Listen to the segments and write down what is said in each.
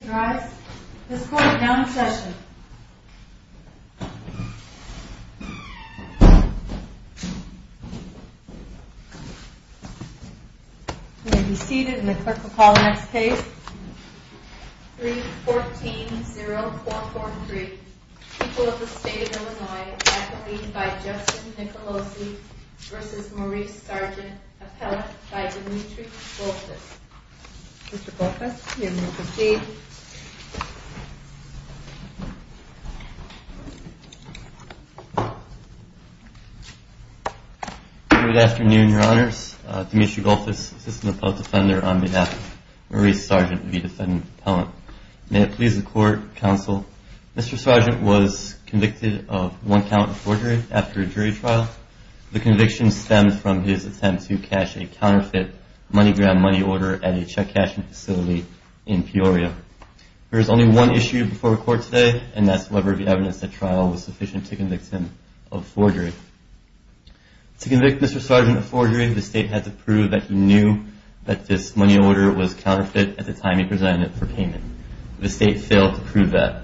This court is now in session. You may be seated and the clerk will call the next case. 3-14-0-4-4-3 The people of the state of Illinois, faculty by Justice Nicolosi v. Maurice Sargent, appellate by Demetri Goulfos. Mr. Goulfos, you may proceed. Good afternoon, your honors. Demetri Goulfos, assistant appellate defender on behalf of Maurice Sargent, the defendant appellant. May it please the court, counsel, Mr. Sargent was convicted of one count of forgery after a jury trial. The conviction stemmed from his attempt to cash a counterfeit MoneyGram money order at a check cashing facility in Peoria. There is only one issue before the court today, and that's whether the evidence at trial was sufficient to convict him of forgery. To convict Mr. Sargent of forgery, the state had to prove that he knew that this money order was counterfeit at the time he presented it for payment. The state failed to prove that.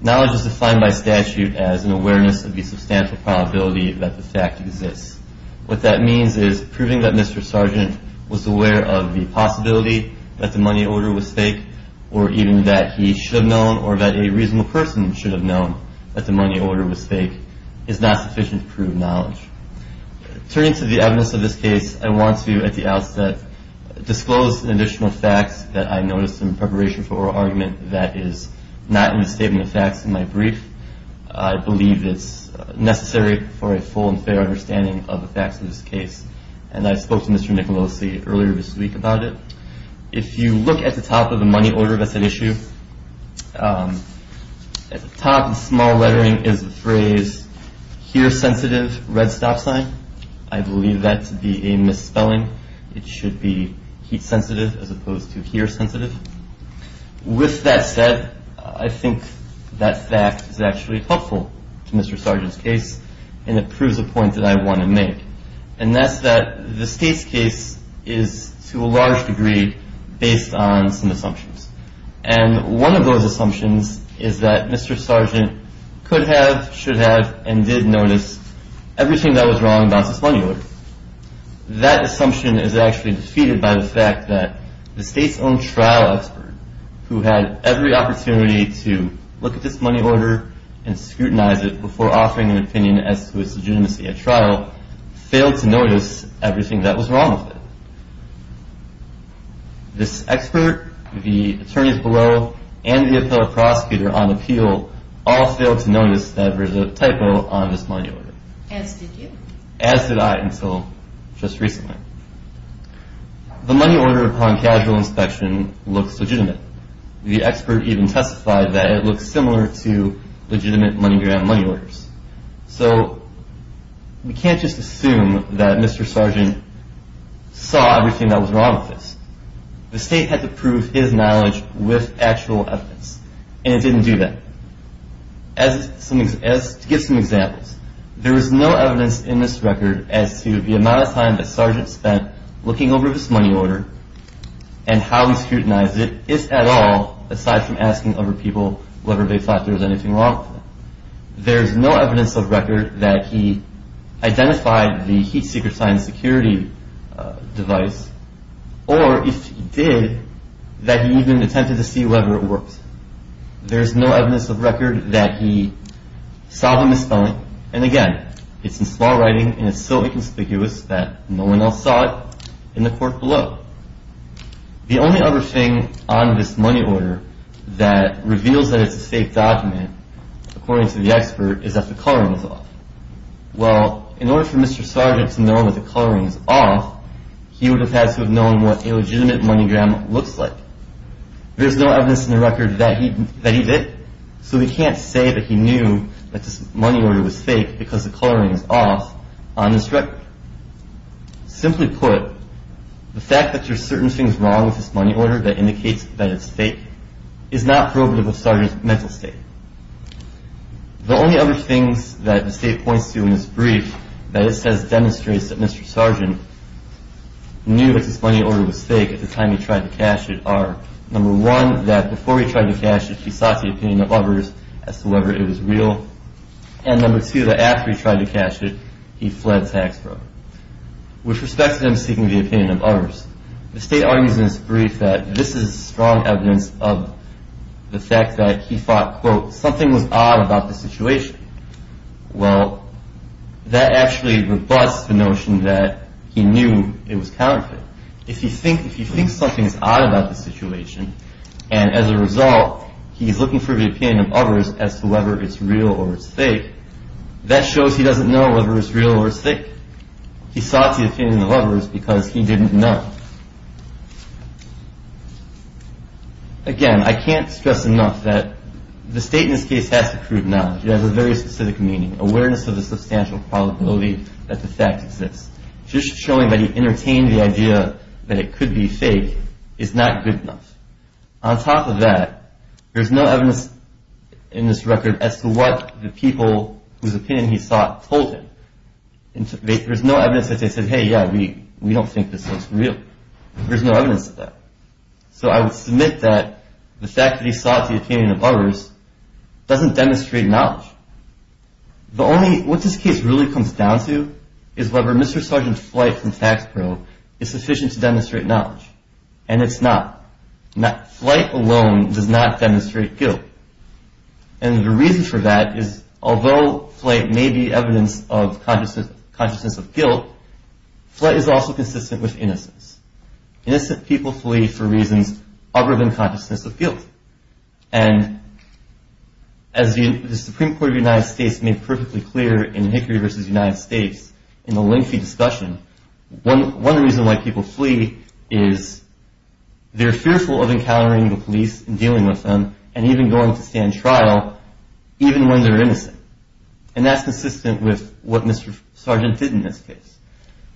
Knowledge is defined by statute as an awareness of the substantial probability that the fact exists. What that means is proving that Mr. Sargent was aware of the possibility that the money order was fake, or even that he should have known or that a reasonable person should have known that the money order was fake is not sufficient to prove knowledge. Turning to the evidence of this case, I want to, at the outset, disclose additional facts that I noticed in preparation for oral argument that is not in the statement of facts in my brief. I believe it's necessary for a full and fair understanding of the facts of this case, and I spoke to Mr. Nicolosi earlier this week about it. If you look at the top of the money order, that's an issue. At the top, the small lettering is the phrase, hear sensitive, red stop sign. I believe that to be a misspelling. It should be heat sensitive as opposed to hear sensitive. With that said, I think that fact is actually helpful to Mr. Sargent's case, and it proves a point that I want to make, and that's that the state's case is, to a large degree, based on some assumptions. And one of those assumptions is that Mr. Sargent could have, should have, and did notice everything that was wrong about this money order. That assumption is actually defeated by the fact that the state's own trial expert, who had every opportunity to look at this money order and scrutinize it before offering an opinion as to its legitimacy at trial, failed to notice everything that was wrong with it. This expert, the attorneys below, and the appellate prosecutor on appeal all failed to notice that there's a typo on this money order. As did you. As did I until just recently. The money order upon casual inspection looks legitimate. The expert even testified that it looks similar to legitimate MoneyGram money orders. So we can't just assume that Mr. Sargent saw everything that was wrong with this. The state had to prove his knowledge with actual evidence, and it didn't do that. As to give some examples, there is no evidence in this record as to the amount of time that Sargent spent looking over this money order and how he scrutinized it, if at all, aside from asking other people whether they thought there was anything wrong with it. There is no evidence of record that he identified the heat-seeker science security device, or if he did, that he even attempted to see whether it worked. There is no evidence of record that he saw the misspelling. And again, it's in small writing and it's so inconspicuous that no one else saw it in the court below. The only other thing on this money order that reveals that it's a fake document, according to the expert, is that the coloring is off. Well, in order for Mr. Sargent to know that the coloring is off, he would have had to have known what a legitimate MoneyGram looks like. There's no evidence in the record that he did, so we can't say that he knew that this money order was fake because the coloring is off on this record. Simply put, the fact that there's certain things wrong with this money order that indicates that it's fake is not probative of Sargent's mental state. The only other things that the state points to in this brief that it says demonstrates that Mr. Sargent knew that this money order was fake at the time he tried to cash it are, number one, that before he tried to cash it, he sought the opinion of others as to whether it was real, and number two, that after he tried to cash it, he fled tax broke. With respect to him seeking the opinion of others, the state argues in this brief that this is strong evidence of the fact that he thought, quote, something was odd about the situation. Well, that actually rebuts the notion that he knew it was counterfeit. If he thinks something is odd about the situation, and as a result, he's looking for the opinion of others as to whether it's real or it's fake, that shows he doesn't know whether it's real or it's fake. He sought the opinion of others because he didn't know. Again, I can't stress enough that the state in this case has to prove knowledge. It has a very specific meaning, awareness of the substantial probability that the fact exists. Just showing that he entertained the idea that it could be fake is not good enough. On top of that, there's no evidence in this record as to what the people whose opinion he sought told him. There's no evidence that they said, hey, yeah, we don't think this is real. There's no evidence of that. So I would submit that the fact that he sought the opinion of others doesn't demonstrate knowledge. What this case really comes down to is whether Mr. Sargent's flight from tax parole is sufficient to demonstrate knowledge. And it's not. Flight alone does not demonstrate guilt. And the reason for that is, although flight may be evidence of consciousness of guilt, flight is also consistent with innocence. Innocent people flee for reasons other than consciousness of guilt. And as the Supreme Court of the United States made perfectly clear in Hickory v. United States in the lengthy discussion, one reason why people flee is they're fearful of encountering the police and dealing with them and even going to stand trial even when they're innocent. And that's consistent with what Mr. Sargent did in this case.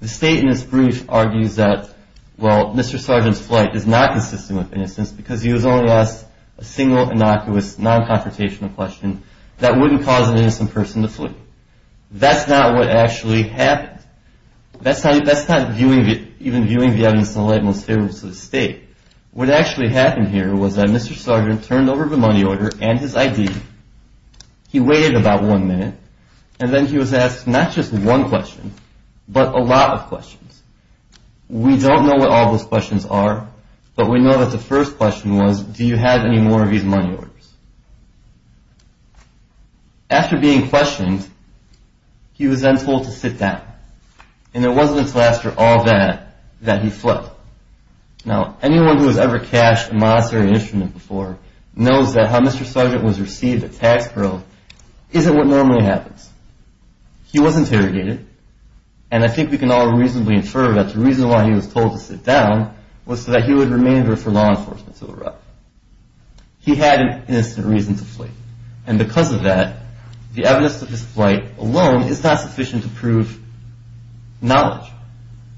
The state in this brief argues that, well, Mr. Sargent's flight is not consistent with innocence because he was only asked a single, innocuous, non-confrontational question that wouldn't cause an innocent person to flee. That's not what actually happened. That's not even viewing the evidence in the light most favorable to the state. What actually happened here was that Mr. Sargent turned over the money order and his ID, he waited about one minute, and then he was asked not just one question but a lot of questions. We don't know what all those questions are, but we know that the first question was, do you have any more of these money orders? After being questioned, he was then told to sit down. And it wasn't until after all that that he fled. Now, anyone who has ever cashed a monetary instrument before knows that how Mr. Sargent was received at tax parole isn't what normally happens. He was interrogated, and I think we can all reasonably infer that the reason why he was told to sit down was so that he would remain there for law enforcement to arrive. He had an innocent reason to flee. And because of that, the evidence of his flight alone is not sufficient to prove knowledge.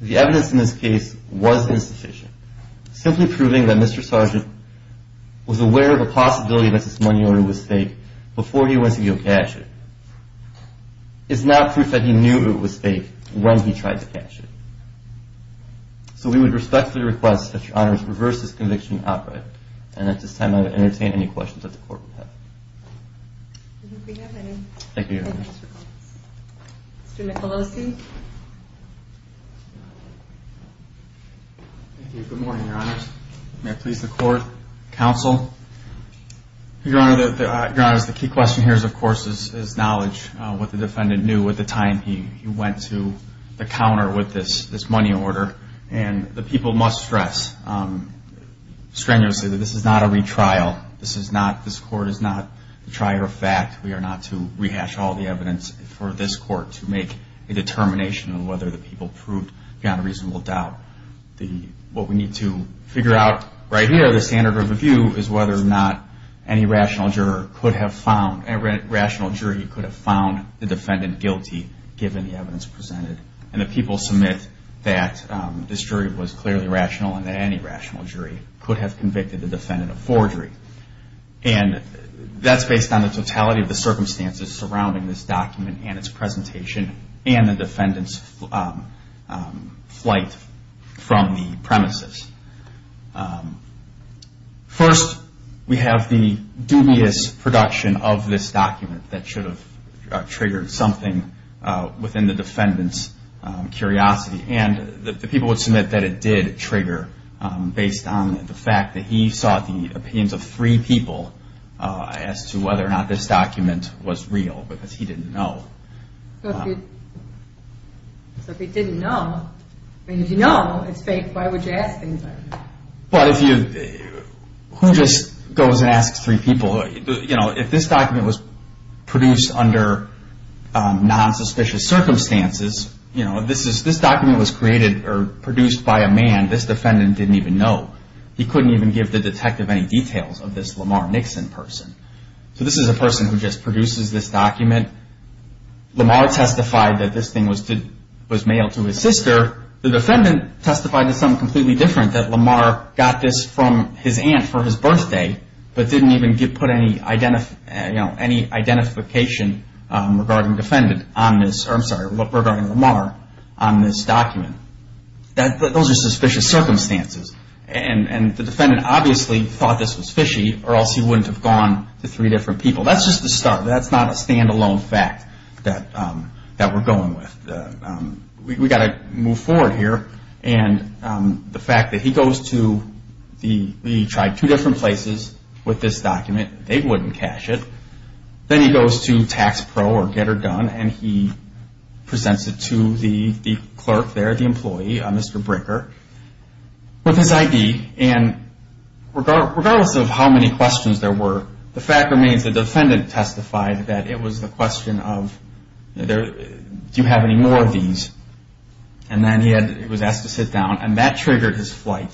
The evidence in this case was insufficient, simply proving that Mr. Sargent was aware of a possibility that this money order was fake before he went to go cash it. It's not proof that he knew it was fake when he tried to cash it. So we would respectfully request that Your Honors reverse this conviction outright. And at this time, I would entertain any questions that the Court would have. Thank you, Your Honors. Mr. Michalowski. Thank you. Good morning, Your Honors. May I please the Court, Counsel? Your Honors, the key question here is, of course, is knowledge, what the defendant knew at the time he went to the counter with this money order. And the people must stress strenuously that this is not a retrial. This Court is not a trier of fact. We are not to rehash all the evidence for this Court to make a determination on whether the people proved beyond a reasonable doubt. What we need to figure out right here, the standard of review, is whether or not any rational jury could have found the defendant guilty, given the evidence presented. And the people submit that this jury was clearly rational and that any rational jury could have convicted the defendant of forgery. And that's based on the totality of the circumstances surrounding this document and its presentation and the defendant's flight from the premises. First, we have the dubious production of this document that should have triggered something within the defendant's curiosity. And the people would submit that it did trigger, based on the fact that he sought the opinions of three people as to whether or not this document was real, because he didn't know. So if he didn't know, I mean, if you know it's fake, why would you ask things like that? But if you, who just goes and asks three people? You know, if this document was produced under non-suspicious circumstances, you know, this document was created or produced by a man this defendant didn't even know. He couldn't even give the detective any details of this Lamar Nixon person. So this is a person who just produces this document. Lamar testified that this thing was mailed to his sister. The defendant testified to something completely different, that Lamar got this from his aunt for his birthday, but didn't even put any identification regarding Lamar on this document. Those are suspicious circumstances. And the defendant obviously thought this was fishy, or else he wouldn't have gone to three different people. That's just the start. That's not a stand-alone fact that we're going with. We've got to move forward here. And the fact that he goes to, he tried two different places with this document. They wouldn't cash it. Then he goes to TaxPro or Get Her Done, and he presents it to the clerk there, the employee, Mr. Bricker. With his ID, and regardless of how many questions there were, the fact remains the defendant testified that it was the question of, do you have any more of these? And then he was asked to sit down, and that triggered his flight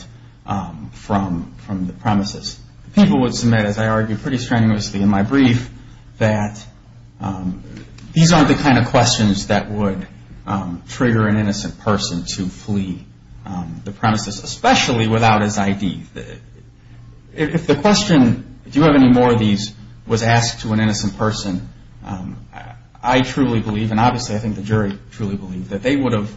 from the premises. People would submit, as I argued pretty strenuously in my brief, that these aren't the kind of questions that would trigger an innocent person to flee the premises, especially without his ID. If the question, do you have any more of these, was asked to an innocent person, I truly believe, and obviously I think the jury truly believed, that they would have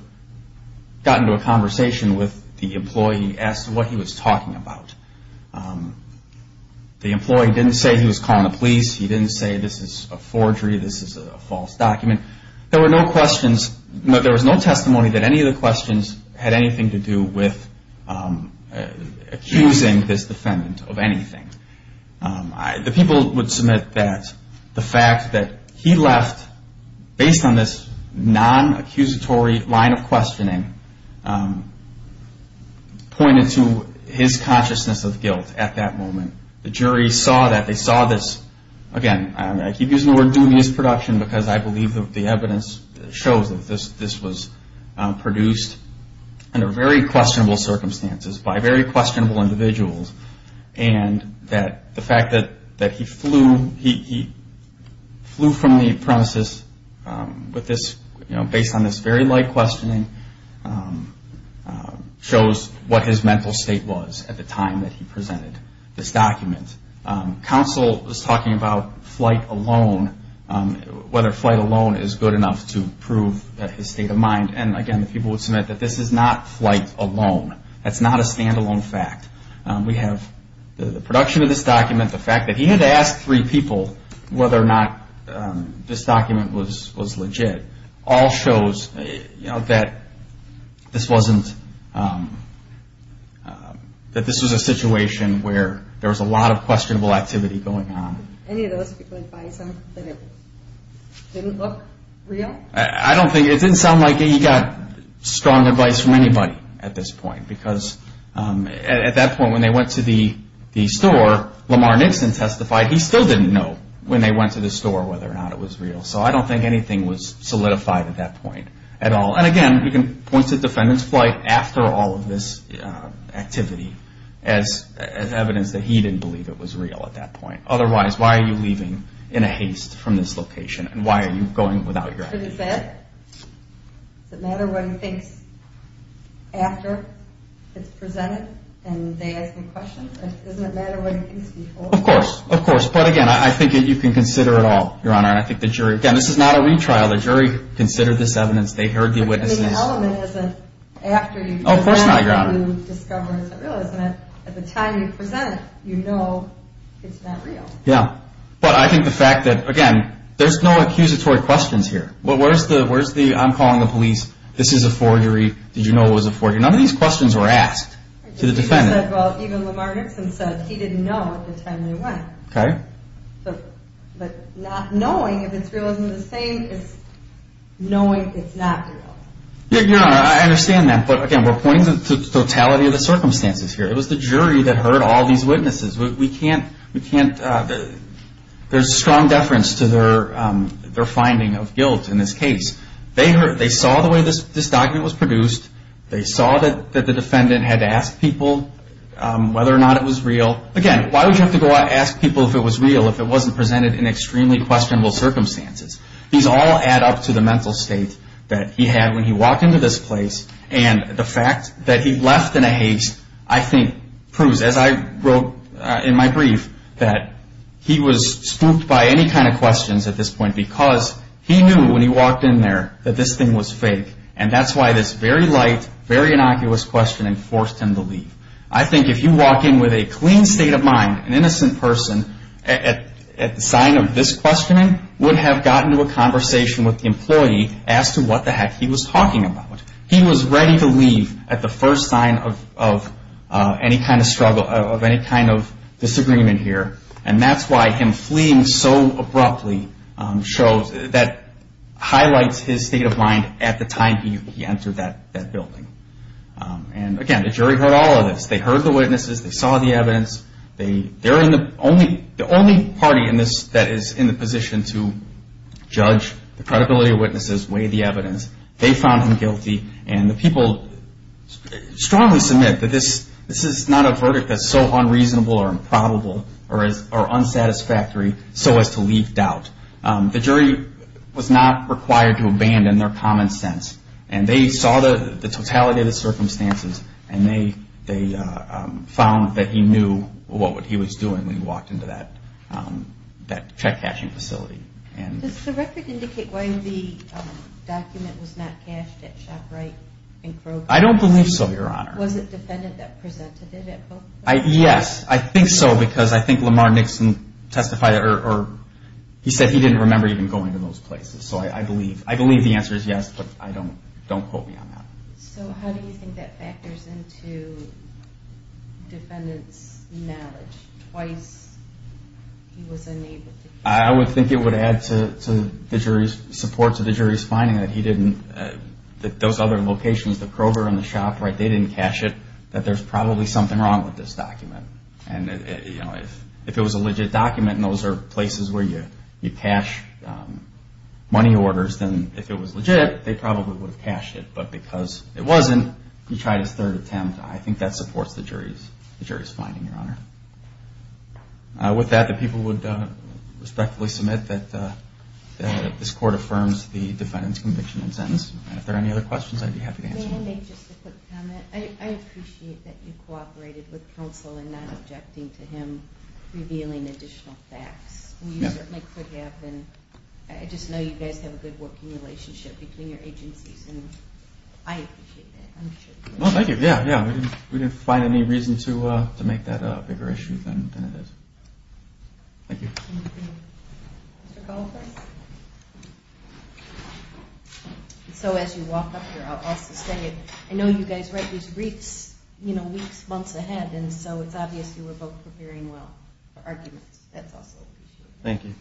gotten to a conversation with the employee, asked what he was talking about. The employee didn't say he was calling the police. He didn't say this is a forgery, this is a false document. There was no testimony that any of the questions had anything to do with accusing this defendant of anything. The people would submit that the fact that he left, based on this non-accusatory line of questioning, pointed to his consciousness of guilt at that moment. The jury saw that, they saw this, again I keep using the word dubious production, because I believe the evidence shows that this was produced under very questionable circumstances, by very questionable individuals, and that the fact that he flew from the premises based on this very light questioning, shows what his mental state was at the time that he presented this document. Counsel was talking about flight alone, whether flight alone is good enough to prove his state of mind, and again the people would submit that this is not flight alone. That's not a stand-alone fact. We have the production of this document, the fact that he had asked three people whether or not this document was legit, all shows that this was a situation where there was a lot of questionable activity going on. Any of those people advise him that it didn't look real? I don't think, it didn't sound like he got strong advice from anybody at this point, because at that point when they went to the store, Lamar Nixon testified he still didn't know when they went to the store whether or not it was real. So I don't think anything was solidified at that point at all. And again, you can point to the defendant's flight after all of this activity, as evidence that he didn't believe it was real at that point. Otherwise, why are you leaving in a haste from this location, and why are you going without your activity? For defense? Does it matter what he thinks after it's presented and they ask him questions? Doesn't it matter what he thinks before? Of course, of course. But again, I think you can consider it all, Your Honor. And I think the jury, again, this is not a retrial. The jury considered this evidence. They heard the witnesses. I mean, the element isn't after you present that you discover it's not real, isn't it? At the time you present it, you know it's not real. Yeah. But I think the fact that, again, there's no accusatory questions here. Where's the, I'm calling the police, this is a forgery, did you know it was a forgery? None of these questions were asked to the defendant. Well, even Lamar Nixon said he didn't know at the time they went. Okay. But not knowing if it's real isn't the same as knowing it's not real. Your Honor, I understand that. But, again, we're pointing to the totality of the circumstances here. It was the jury that heard all these witnesses. We can't, we can't, there's strong deference to their finding of guilt in this case. They saw the way this document was produced. They saw that the defendant had to ask people whether or not it was real. So, again, why would you have to go out and ask people if it was real, if it wasn't presented in extremely questionable circumstances? These all add up to the mental state that he had when he walked into this place. And the fact that he left in a haste, I think, proves, as I wrote in my brief, that he was spooked by any kind of questions at this point because he knew when he walked in there that this thing was fake. And that's why this very light, very innocuous questioning forced him to leave. I think if you walk in with a clean state of mind, an innocent person, at the sign of this questioning would have gotten to a conversation with the employee as to what the heck he was talking about. He was ready to leave at the first sign of any kind of struggle, of any kind of disagreement here. And that's why him fleeing so abruptly shows, that highlights his state of mind at the time he entered that building. And again, the jury heard all of this. They heard the witnesses, they saw the evidence. They're the only party in this that is in the position to judge the credibility of witnesses, weigh the evidence. They found him guilty. And the people strongly submit that this is not a verdict that's so unreasonable or improbable or unsatisfactory so as to leave doubt. The jury was not required to abandon their common sense. And they saw the totality of the circumstances. And they found that he knew what he was doing when he walked into that check-cashing facility. Does the record indicate why the document was not cashed at ShopRite and Kroger? I don't believe so, Your Honor. Was it the defendant that presented it at Kroger? Yes. I think so because I think Lamar Nixon testified, or he said he didn't remember even going to those places. So I believe the answer is yes, but don't quote me on that. So how do you think that factors into defendant's knowledge? Twice he was unable to cash it. I would think it would add support to the jury's finding that those other locations, the Kroger and the ShopRite, they didn't cash it, that there's probably something wrong with this document. And if it was a legit document and those are places where you cash money orders, then if it was legit, they probably would have cashed it. But because it wasn't, he tried his third attempt. I think that supports the jury's finding, Your Honor. With that, the people would respectfully submit that this court affirms the defendant's conviction and sentence. And if there are any other questions, I'd be happy to answer them. May I make just a quick comment? I appreciate that you cooperated with counsel in not objecting to him revealing additional facts. You certainly could have. I just know you guys have a good working relationship between your agencies, and I appreciate that. Thank you. We didn't find any reason to make that a bigger issue than it is. Thank you. Mr. Goldberg? So as you walk up here, I'll also say it. I know you guys write these briefs, you know, weeks, months ahead, and so it's obvious you were both preparing well for arguments. That's also appreciated. Thank you.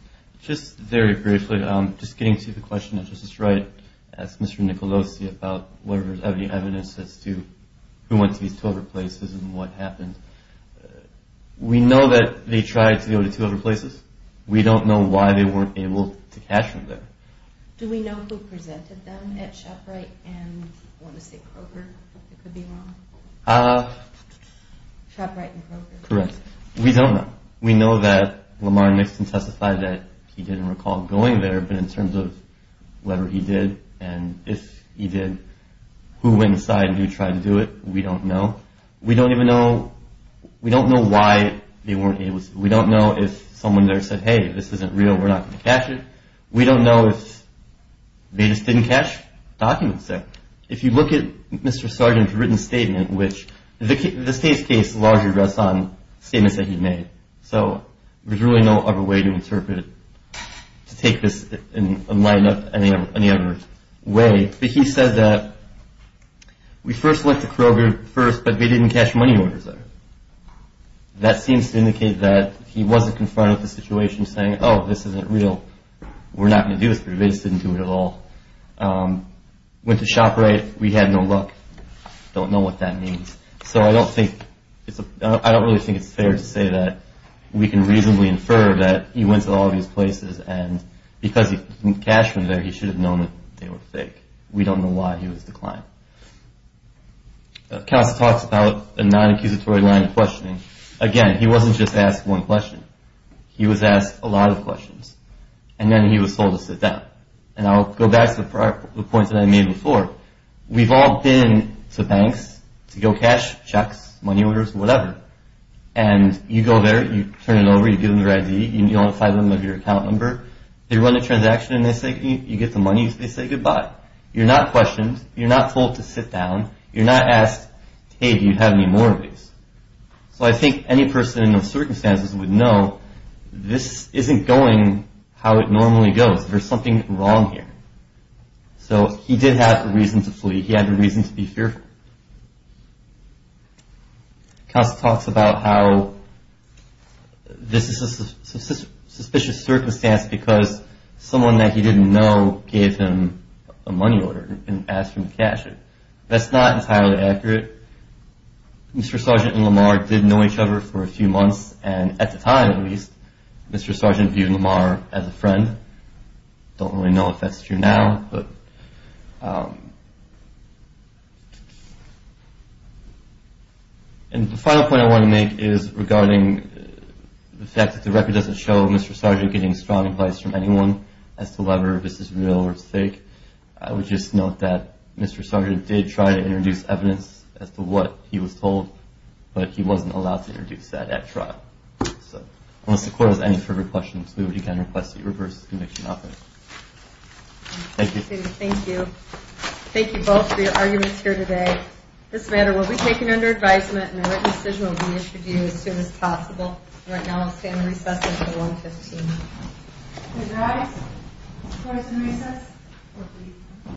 Just very briefly, just getting to the question that Justice Wright asked Mr. Nicolosi about whether there's any evidence as to who went to these 12 other places and what happened. We know that they tried to go to two other places. We don't know why they weren't able to catch them there. Do we know who presented them at ShopRite and, I want to say, Kroger? It could be wrong. ShopRite and Kroger. Correct. We don't know. We know that Lamar Nixon testified that he didn't recall going there, but in terms of whether he did and if he did, who went inside and who tried to do it, we don't know. We don't even know why they weren't able to. We don't know if someone there said, hey, this isn't real, we're not going to catch it. We don't know if they just didn't catch documents there. If you look at Mr. Sargent's written statement, which the state's case largely rests on statements that he made, so there's really no other way to interpret it to take this and line it up any other way. But he said that we first looked at Kroger first, but we didn't catch money orders there. That seems to indicate that he wasn't confronted with the situation saying, oh, this isn't real, we're not going to do this, but we just didn't do it at all. Went to ShopRite, we had no luck. Don't know what that means. So I don't really think it's fair to say that we can reasonably infer that he went to all these places and because he didn't catch them there, he should have known that they were fake. We don't know why he was declined. Council talks about a non-accusatory line of questioning. Again, he wasn't just asked one question. He was asked a lot of questions. And then he was told to sit down. And I'll go back to the point that I made before. We've all been to banks to go cash checks, money orders, whatever. And you go there, you turn it over, you give them your ID, you identify them with your account number. They run a transaction and they say you get the money, they say goodbye. You're not questioned. You're not told to sit down. You're not asked, hey, do you have any more of these? So I think any person in those circumstances would know this isn't going how it normally goes. There's something wrong here. So he did have a reason to flee. He had a reason to be fearful. Council talks about how this is a suspicious circumstance because someone that he didn't know gave him a money order and asked him to cash it. That's not entirely accurate. Mr. Sargent and Lamar did know each other for a few months. And at the time, at least, Mr. Sargent viewed Lamar as a friend. Don't really know if that's true now. But the final point I want to make is regarding the fact that the record doesn't show Mr. Sargent getting strong advice from anyone as to whether this is real or fake. I would just note that Mr. Sargent did try to introduce evidence as to what he was told, but he wasn't allowed to introduce that at trial. So unless the Court has any further questions, we would again request that you reverse this conviction offer. Thank you. Thank you. Thank you both for your arguments here today. This matter will be taken under advisement, and a written decision will be issued to you as soon as possible. Right now, I'll stand recess until 1.15. Good night. Court is in recess.